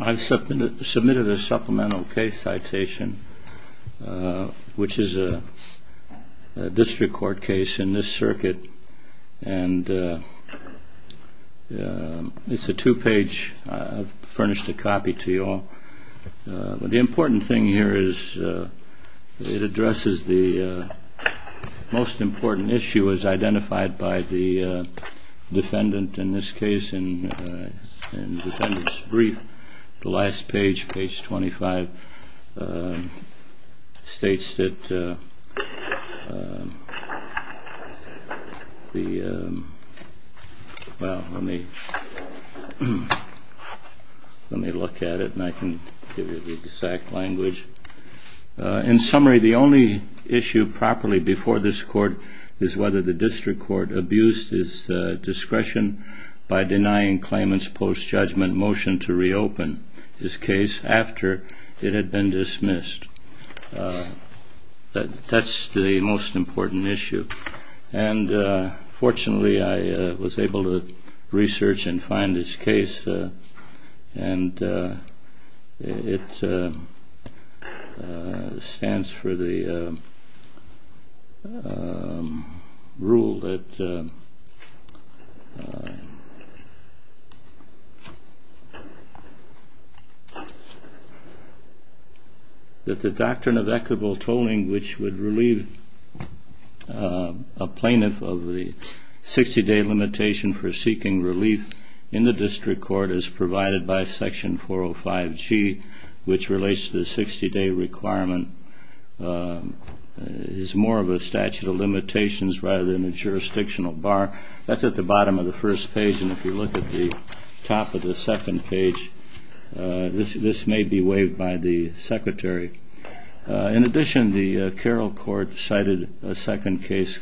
I've submitted a supplemental case citation, which is a district court case in this circuit. It's a two-page, I've furnished a copy to you all. The important thing here is it addresses the most important issue as identified by the defendant in this case in the defendant's brief. The last page, page 25, states that, well, let me look at it and I can give you the exact language. In summary, the only issue properly before this court is whether the district court abused its discretion by denying Clayman's post-judgment motion to reopen his case after it had been dismissed. That's the most important issue. Fortunately, I was able to research and find this case. And it stands for the rule that the doctrine of equitable tolling, which would relieve a plaintiff of the 60-day limitation for seeking relief in the district court as provided by section 405G, which relates to the 60-day requirement, is more of a statute of limitations rather than a jurisdictional bar. That's at the bottom of the first page, and if you look at the top of the second page, this may be waived by the secretary. In addition, the Carroll Court cited a second case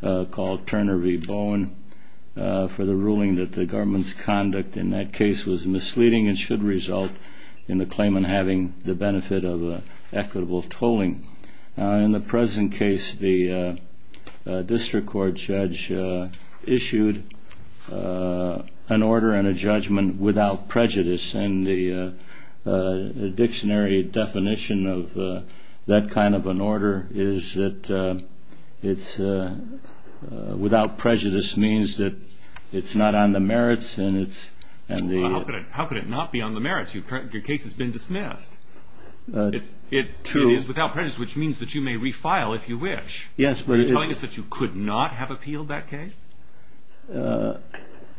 called Turner v. Bowen for the ruling that the government's conduct in that case was misleading and should result in the claimant having the benefit of equitable tolling. In the present case, the district court judge issued an order and a judgment without prejudice. And the dictionary definition of that kind of an order is that without prejudice means that it's not on the merits and it's... How could it not be on the merits? Your case has been dismissed. It is without prejudice, which means that you may refile if you wish. Yes, but... Are you telling us that you could not have appealed that case?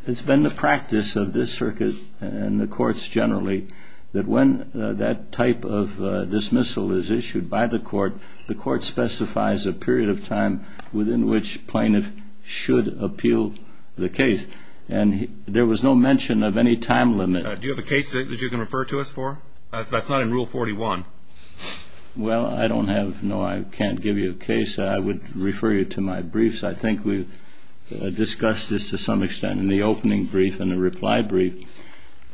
It's been the practice of this circuit and the courts generally that when that type of dismissal is issued by the court, the court specifies a period of time within which plaintiff should appeal the case. And there was no mention of any time limit. Do you have a case that you can refer to us for? That's not in Rule 41. Well, I don't have... No, I can't give you a case. I would refer you to my briefs. I think we've discussed this to some extent in the opening brief and the reply brief.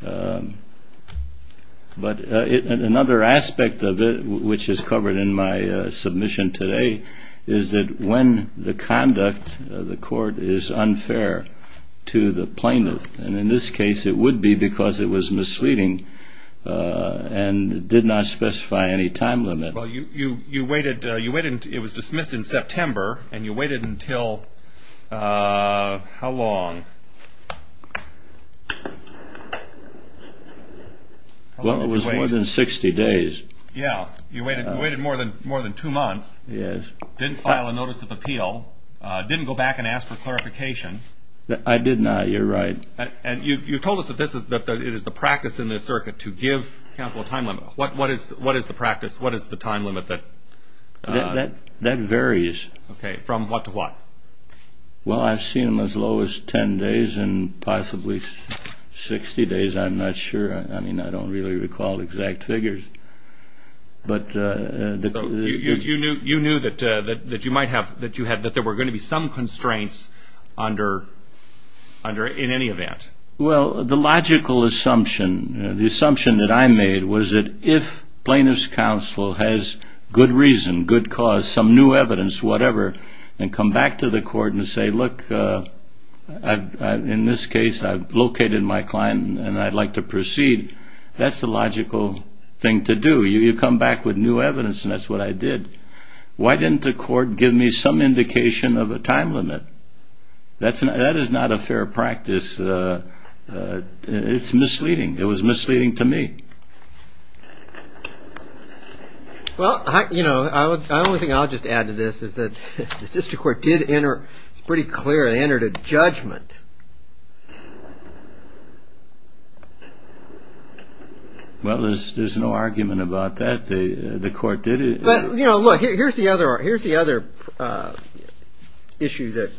But another aspect of it, which is covered in my submission today, is that when the conduct of the court is unfair to the plaintiff, and in this case it would be because it was misleading and did not specify any time limit. Well, you waited... It was dismissed in September, and you waited until... How long? Well, it was more than 60 days. Yeah, you waited more than two months, didn't file a notice of appeal, didn't go back and ask for clarification. I did not, you're right. And you told us that it is the practice in this circuit to give counsel a time limit. What is the practice? What is the time limit that... That varies. Okay, from what to what? Well, I've seen them as low as 10 days and possibly 60 days. I'm not sure. I mean, I don't really recall exact figures. So you knew that there were going to be some constraints in any event? Well, the logical assumption, the assumption that I made was that if plaintiff's counsel has good reason, good cause, some new evidence, whatever, and come back to the court and say, look, in this case I've located my client and I'd like to proceed, that's the logical thing to do. You come back with new evidence, and that's what I did. Why didn't the court give me some indication of a time limit? That is not a fair practice. It's misleading. It was misleading to me. Well, you know, the only thing I'll just add to this is that the district court did enter, it's pretty clear, they entered a judgment. Well, there's no argument about that. The court did... But, you know, look, here's the other issue that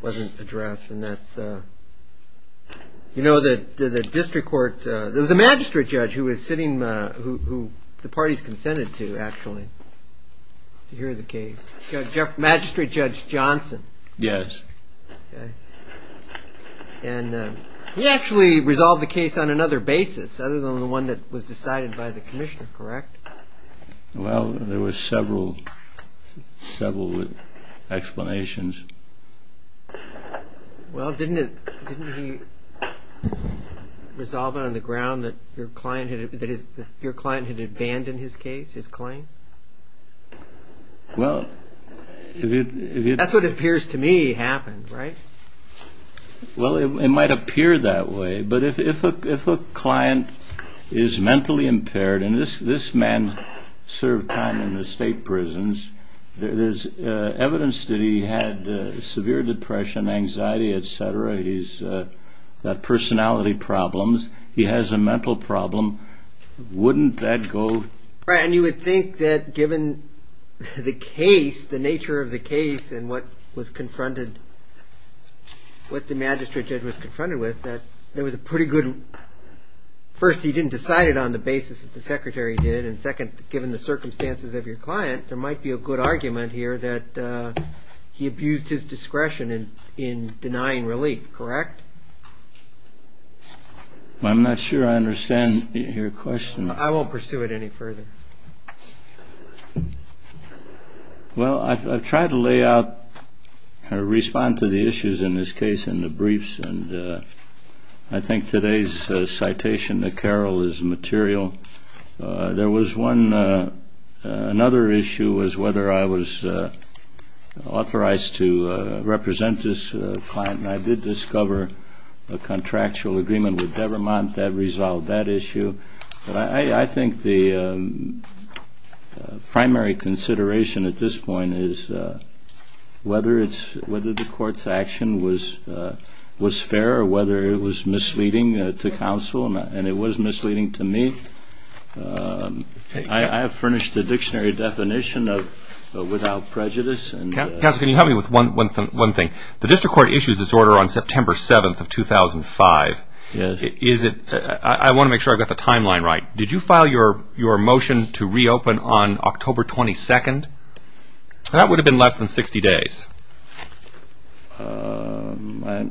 wasn't addressed, and that's, you know, the district court, there was a magistrate judge who was sitting, who the parties consented to, actually, to hear the case, Magistrate Judge Johnson. Yes. And he actually resolved the case on another basis, other than the one that was decided by the commissioner, correct? Well, there were several, several explanations. Well, didn't he resolve it on the ground that your client had abandoned his case, his claim? Well, if you... That's what appears to me happened, right? Well, it might appear that way, but if a client is mentally impaired, and this man served time in the state prisons, there's evidence that he had severe depression, anxiety, etc. He's got personality problems. He has a mental problem. Wouldn't that go... Right, and you would think that given the case, the nature of the case, and what was confronted, what the magistrate judge was confronted with, that there was a pretty good... First, he didn't decide it on the basis that the secretary did, and second, given the circumstances of your client, there might be a good argument here that he abused his discretion in denying relief, correct? I'm not sure I understand your question. I won't pursue it any further. Well, I've tried to lay out, respond to the issues in this case in the briefs, and I think today's citation to Carroll is material. There was one, another issue was whether I was authorized to represent this client, and I did discover a contractual agreement with Devermont that resolved that issue. I think the primary consideration at this point is whether the court's action was fair or whether it was misleading to counsel, and it was misleading to me. I have furnished a dictionary definition of without prejudice. Counsel, can you help me with one thing? The district court issues this order on September 7th of 2005. I want to make sure I've got the timeline right. Did you file your motion to reopen on October 22nd? That would have been less than 60 days. Let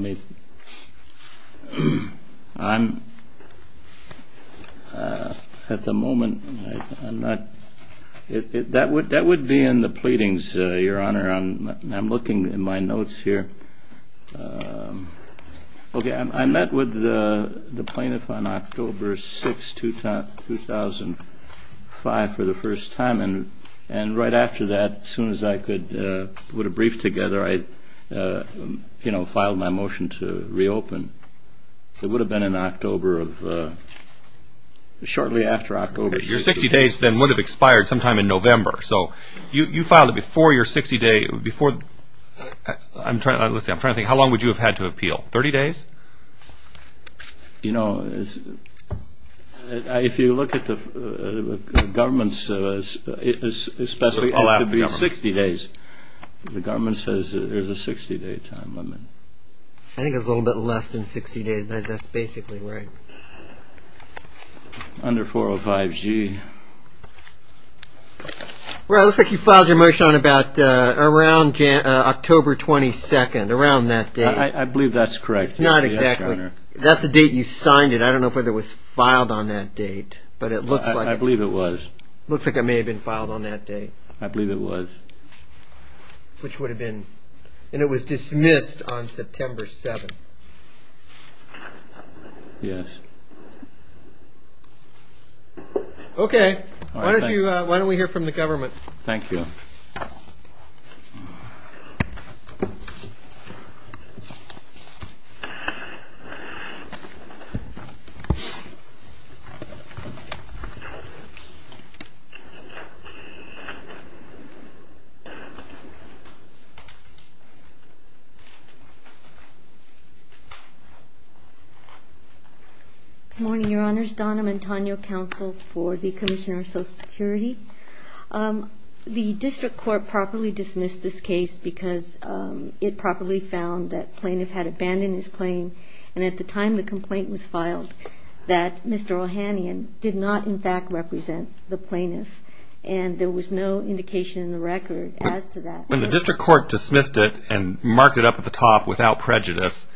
me, I'm, at the moment, I'm not, that would be in the pleadings, Your Honor, I'm looking in my notes here. Okay, I met with the plaintiff on October 6th, 2005, for the first time, and right after that, as soon as I could put a brief together, I, you know, filed my motion to reopen. It would have been in October of, shortly after October 6th. Your 60 days then would have expired sometime in November, so you filed it before your 60 day, before, I'm trying, let's see, I'm trying to think, how long would you have had to appeal? 30 days? You know, if you look at the government's, especially after the 60 days, the government says there's a 60 day time limit. I think it's a little bit less than 60 days, but that's basically right. Under 405G. Well, it looks like you filed your motion on about, around October 22nd, around that date. I believe that's correct. It's not exactly, that's the date you signed it, I don't know if it was filed on that date, but it looks like it. I believe it was. Looks like it may have been filed on that date. I believe it was. Which would have been, and it was dismissed on September 7th. Yes. Okay. Why don't we hear from the government? Thank you. Good morning, Your Honors. Donna Mantagno, Counsel for the Commissioner of Social Security. The District Court properly dismissed this case because it properly found that Plaintiff had abandoned his claim, and at the time the complaint was filed, that Mr. Ohanian did not, in fact, represent the Plaintiff, and there was no indication in the record as to that. When the District Court dismissed it and marked it up at the top without prejudice,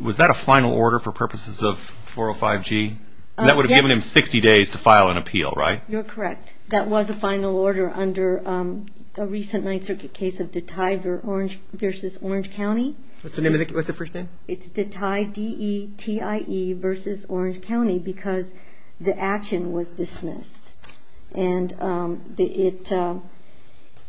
was that a final order for purposes of 405G? Yes. That would have given him 60 days to file an appeal, right? You're correct. That was a final order under a recent Ninth Circuit case of Detie versus Orange County. What's the first name? It's Detie, D-E-T-I-E, versus Orange County because the action was dismissed. And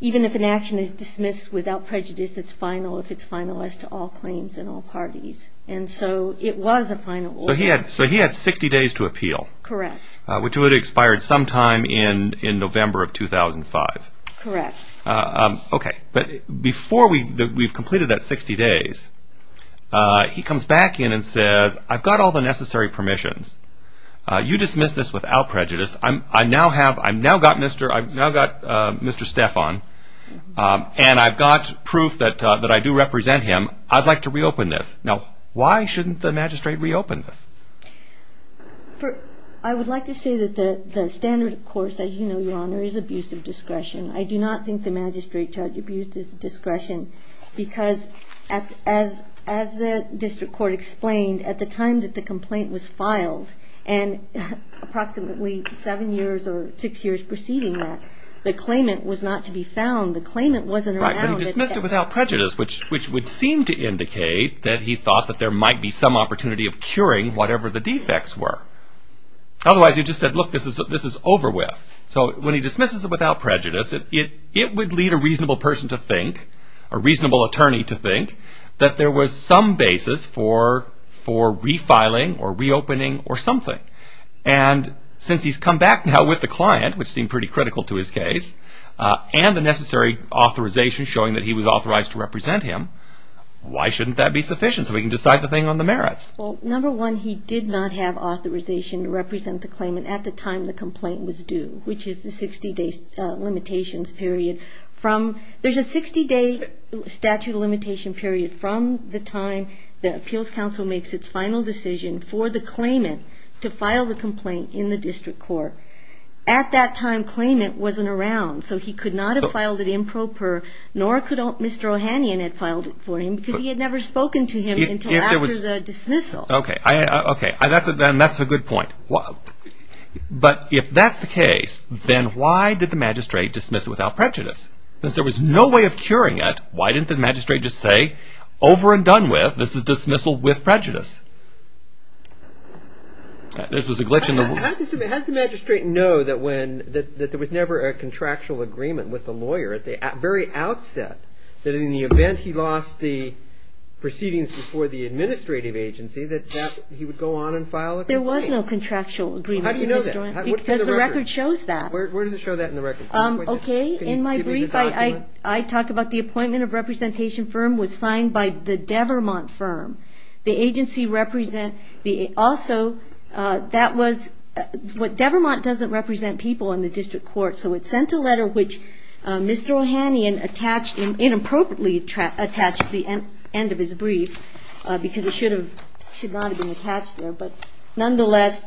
even if an action is dismissed without prejudice, it's final if it's final as to all claims and all parties. And so it was a final order. So he had 60 days to appeal. Correct. Which would have expired sometime in November of 2005. Correct. Okay. You dismissed this without prejudice. I've now got Mr. Stephan, and I've got proof that I do represent him. I'd like to reopen this. Now, why shouldn't the magistrate reopen this? I would like to say that the standard, of course, as you know, Your Honor, is abuse of discretion. I do not think the magistrate charged abuse of discretion because, as the District Court explained, at the time that the complaint was filed, and approximately seven years or six years preceding that, the claimant was not to be found. The claimant wasn't around. Right, but he dismissed it without prejudice, which would seem to indicate that he thought that there might be some opportunity of curing whatever the defects were. Otherwise, he just said, look, this is over with. So when he dismisses it without prejudice, it would lead a reasonable person to think, a reasonable attorney to think, that there was some basis for refiling or reopening or something. And since he's come back now with the client, which seemed pretty critical to his case, and the necessary authorization showing that he was authorized to represent him, why shouldn't that be sufficient so we can decide the thing on the merits? Well, number one, he did not have authorization to represent the claimant at the time the complaint was due, which is the 60-day limitations period. There's a 60-day statute of limitation period from the time the appeals council makes its final decision for the claimant to file the complaint in the district court. At that time, the claimant wasn't around, so he could not have filed it improper, nor could Mr. Ohanian have filed it for him because he had never spoken to him until after the dismissal. Okay, and that's a good point. But if that's the case, then why did the magistrate dismiss it without prejudice? Since there was no way of curing it, why didn't the magistrate just say, over and done with, this is dismissal with prejudice? This was a glitch in the rule. Had the magistrate known that there was never a contractual agreement with the lawyer at the very outset, that in the event he lost the proceedings before the administrative agency, that he would go on and file a complaint? There was no contractual agreement, Mr. Ohanian. How do you know that? Because the record shows that. Where does it show that in the record? Okay, in my brief, I talk about the appointment of representation firm was signed by the Devermont firm. The agency represent the also, that was what, Devermont doesn't represent people in the district court, so it sent a letter which Mr. Ohanian attached, inappropriately attached the end of his brief because it should not have been attached there. But nonetheless,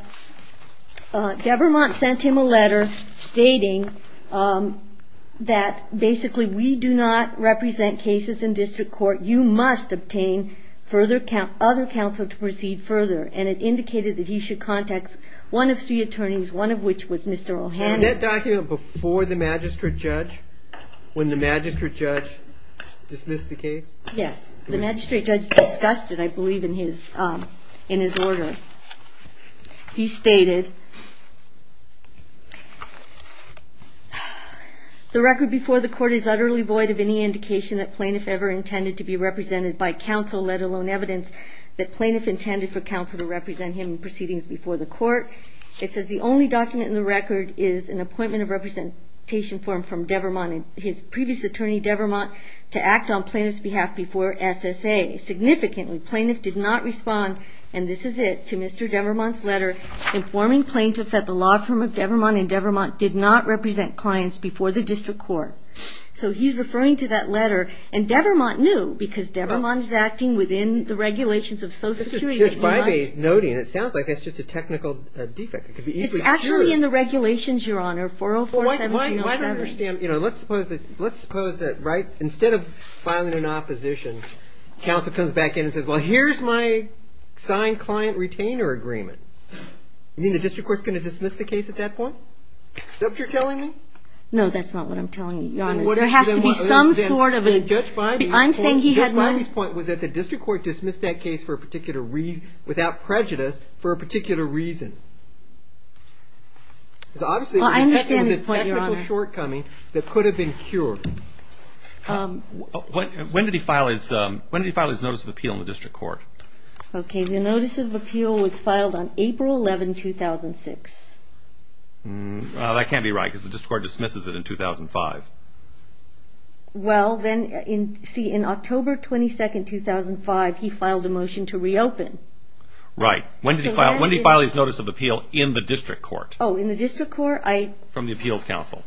Devermont sent him a letter stating that, basically, we do not represent cases in district court. You must obtain other counsel to proceed further. And it indicated that he should contact one of three attorneys, one of which was Mr. Ohanian. Was that document before the magistrate judge, when the magistrate judge dismissed the case? Yes. The magistrate judge discussed it, I believe, in his order. He stated, the record before the court is utterly void of any indication that plaintiff ever intended to be represented by counsel, let alone evidence that plaintiff intended for counsel to represent him in proceedings before the court. It says the only document in the record is an appointment of representation form from Devermont and his previous attorney, Devermont, to act on plaintiff's behalf before SSA. Significantly, plaintiff did not respond, and this is it, to Mr. Devermont's letter, informing plaintiffs that the law firm of Devermont and Devermont did not represent clients before the district court. So he's referring to that letter, and Devermont knew, because Devermont is acting within the regulations of Social Security. This is Judge Bybee's noting. It sounds like it's just a technical defect. It's actually in the regulations, Your Honor, 404-1707. Well, I don't understand. You know, let's suppose that, right, instead of filing an opposition, counsel comes back in and says, well, here's my signed client retainer agreement. You mean the district court's going to dismiss the case at that point? Is that what you're telling me? No, that's not what I'm telling you, Your Honor. There has to be some sort of a... I'm saying he had no... Judge Bybee's point was that the district court dismissed that case for a particular reason, without prejudice, for a particular reason. Well, I understand his point, Your Honor. It's obviously a technical shortcoming that could have been cured. When did he file his notice of appeal in the district court? Okay, the notice of appeal was filed on April 11, 2006. That can't be right, because the district court dismisses it in 2005. Well, then, see, in October 22, 2005, he filed a motion to reopen. Right. When did he file his notice of appeal in the district court? Oh, in the district court? From the appeals counsel.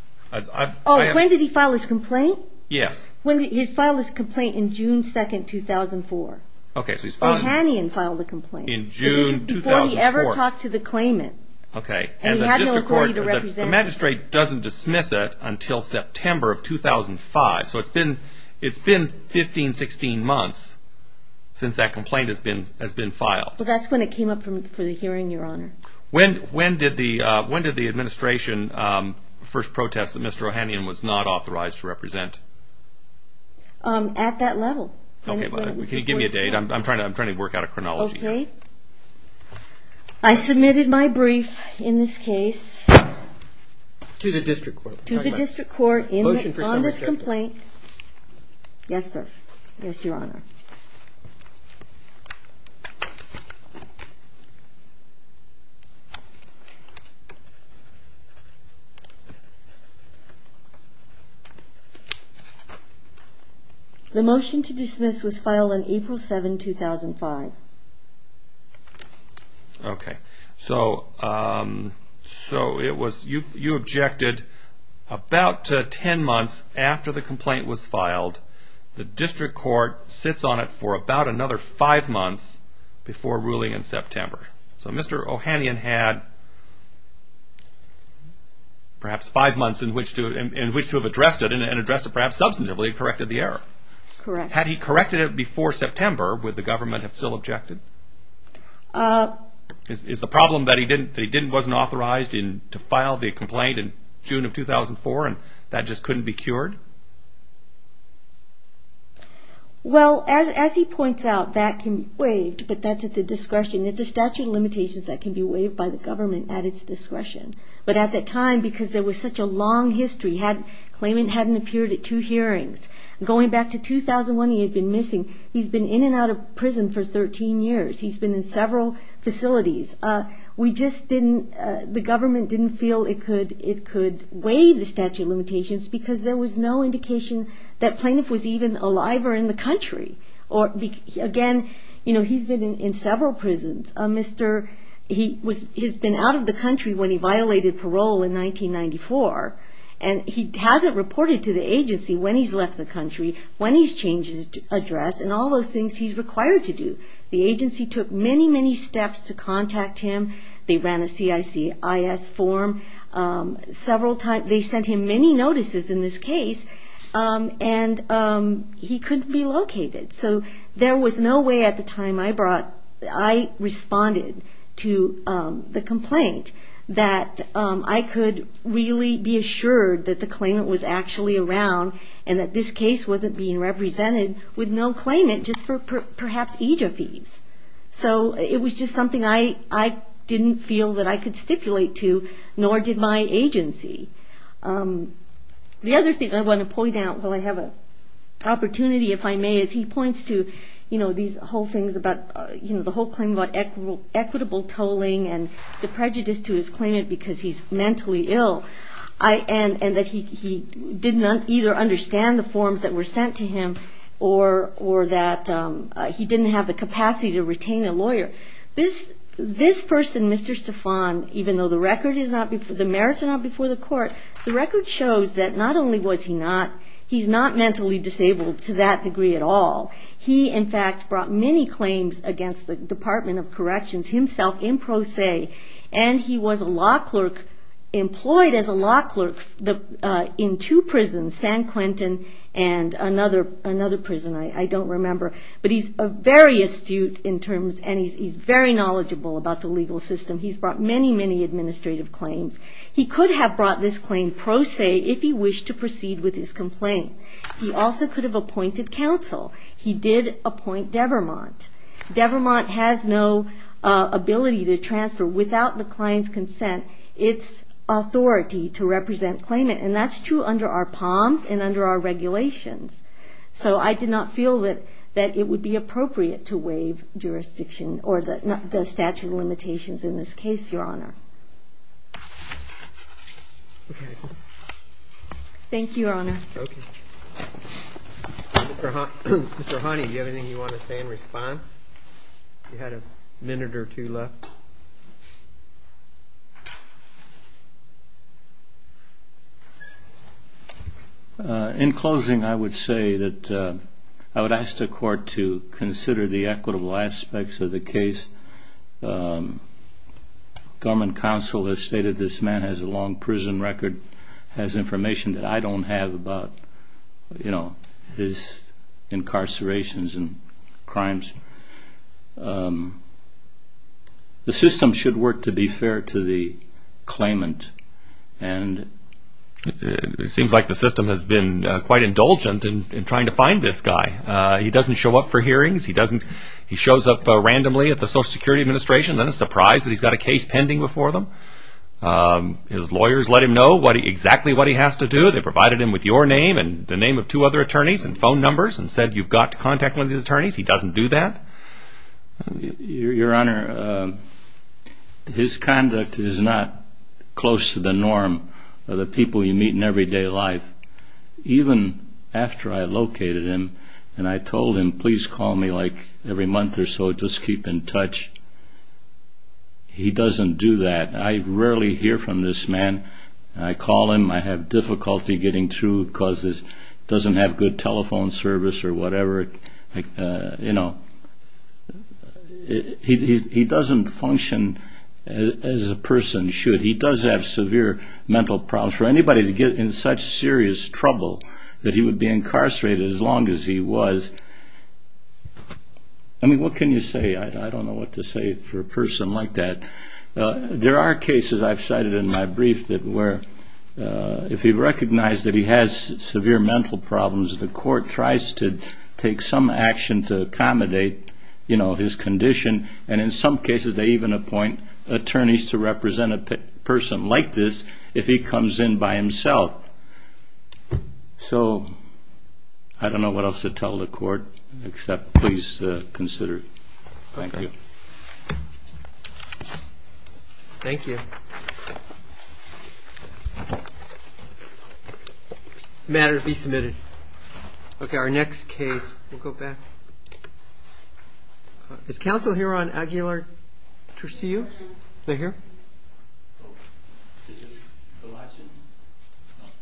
Oh, when did he file his complaint? Yes. He filed his complaint in June 2, 2004. Okay, so he's filing... Bohanian filed a complaint. In June 2004. Before he ever talked to the claimant. Okay, and the district court... And he had no authority to represent him. The magistrate doesn't dismiss it until September of 2005, so it's been 15, 16 months since that complaint has been filed. Well, that's when it came up for the hearing, Your Honor. When did the administration first protest that Mr. Bohanian was not authorized to represent? At that level. Can you give me a date? I'm trying to work out a chronology. Okay. I submitted my brief in this case... To the district court. To the district court on this complaint. Yes, sir. Yes, Your Honor. The motion to dismiss was filed on April 7, 2005. Okay, so it was... You objected about 10 months after the complaint was filed. The district court sits on it for about another five months before ruling in September. So Mr. Bohanian had... Perhaps five months in which to have addressed it, and addressed it perhaps substantively, corrected the error. Correct. Had he corrected it before September, would the government have still objected? Is the problem that he wasn't authorized to file the complaint in June of 2004, and that just couldn't be cured? Well, as he points out, that can be waived, but that's at the discretion. It's a statute of limitations that can be waived by the government at its discretion. But at that time, because there was such a long history, the claimant hadn't appeared at two hearings. Going back to 2001, he had been missing. He's been in and out of prison for 13 years. He's been in several facilities. We just didn't... The government didn't feel it could waive the statute of limitations because there was no indication that plaintiff was even alive or in the country. Again, he's been in several prisons. He's been out of the country when he violated parole in 1994, and he hasn't reported to the agency when he's left the country, when he's changed his address, and all those things he's required to do. The agency took many, many steps to contact him. They ran a CICIS form several times. They sent him many notices in this case, and he couldn't be located. So there was no way at the time I brought... I responded to the complaint that I could really be assured that the claimant was actually around and that this case wasn't being represented with no claimant just for perhaps age of ease. So it was just something I didn't feel that I could stipulate to, nor did my agency. The other thing I want to point out while I have an opportunity, if I may, is he points to these whole things about the whole claim about equitable tolling and the prejudice to his claimant because he's mentally ill and that he did not either understand the forms that were sent to him or that he didn't have the capacity to retain a lawyer. This person, Mr. Stefan, even though the merits are not before the court, the record shows that not only was he not... he's not mentally disabled to that degree at all. He, in fact, brought many claims against the Department of Corrections himself in pro se, and he was a law clerk, employed as a law clerk, in two prisons, San Quentin and another prison, I don't remember. But he's very astute in terms... and he's very knowledgeable about the legal system. He's brought many, many administrative claims. He could have brought this claim pro se if he wished to proceed with his complaint. He also could have appointed counsel. He did appoint Devermont. Devermont has no ability to transfer without the client's consent or its authority to represent claimant, and that's true under our POMS and under our regulations. So I did not feel that it would be appropriate to waive jurisdiction or the statute of limitations in this case, Your Honor. Thank you, Your Honor. Okay. Mr. Hanney, do you have anything you want to say in response? You had a minute or two left. In closing, I would say that I would ask the court to consider the equitable aspects of the case. Government counsel has stated this man has a long prison record, has information that I don't have about his incarcerations and crimes. The system should work to be fair to the claimant, and it seems like the system has been quite indulgent in trying to find this guy. He doesn't show up for hearings. He shows up randomly at the Social Security Administration. Then it's a surprise that he's got a case pending before them. His lawyers let him know exactly what he has to do. They provided him with your name and the name of two other attorneys and phone numbers and said you've got to contact one of these attorneys. He doesn't do that? Your Honor, his conduct is not close to the norm of the people you meet in everyday life. Even after I located him and I told him please call me like every month or so, just keep in touch, he doesn't do that. I rarely hear from this man. I call him. I have difficulty getting through because he doesn't have good telephone service or whatever. He doesn't function as a person should. He does have severe mental problems. For anybody to get in such serious trouble that he would be incarcerated as long as he was, I mean, what can you say? I don't know what to say for a person like that. There are cases I've cited in my brief where if he recognized that he has severe mental problems, the court tries to take some action to accommodate his condition, and in some cases they even appoint attorneys to represent a person like this if he comes in by himself. So I don't know what else to tell the court except please consider it. Thank you. Thank you. Thank you. The matter to be submitted. Okay, our next case. We'll go back. Is counsel here on Aguilar-Turcios? Is that here?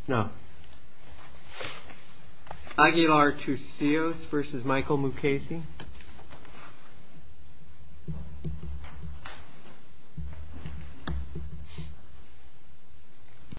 No. Aguilar-Turcios v. Michael Mukasey.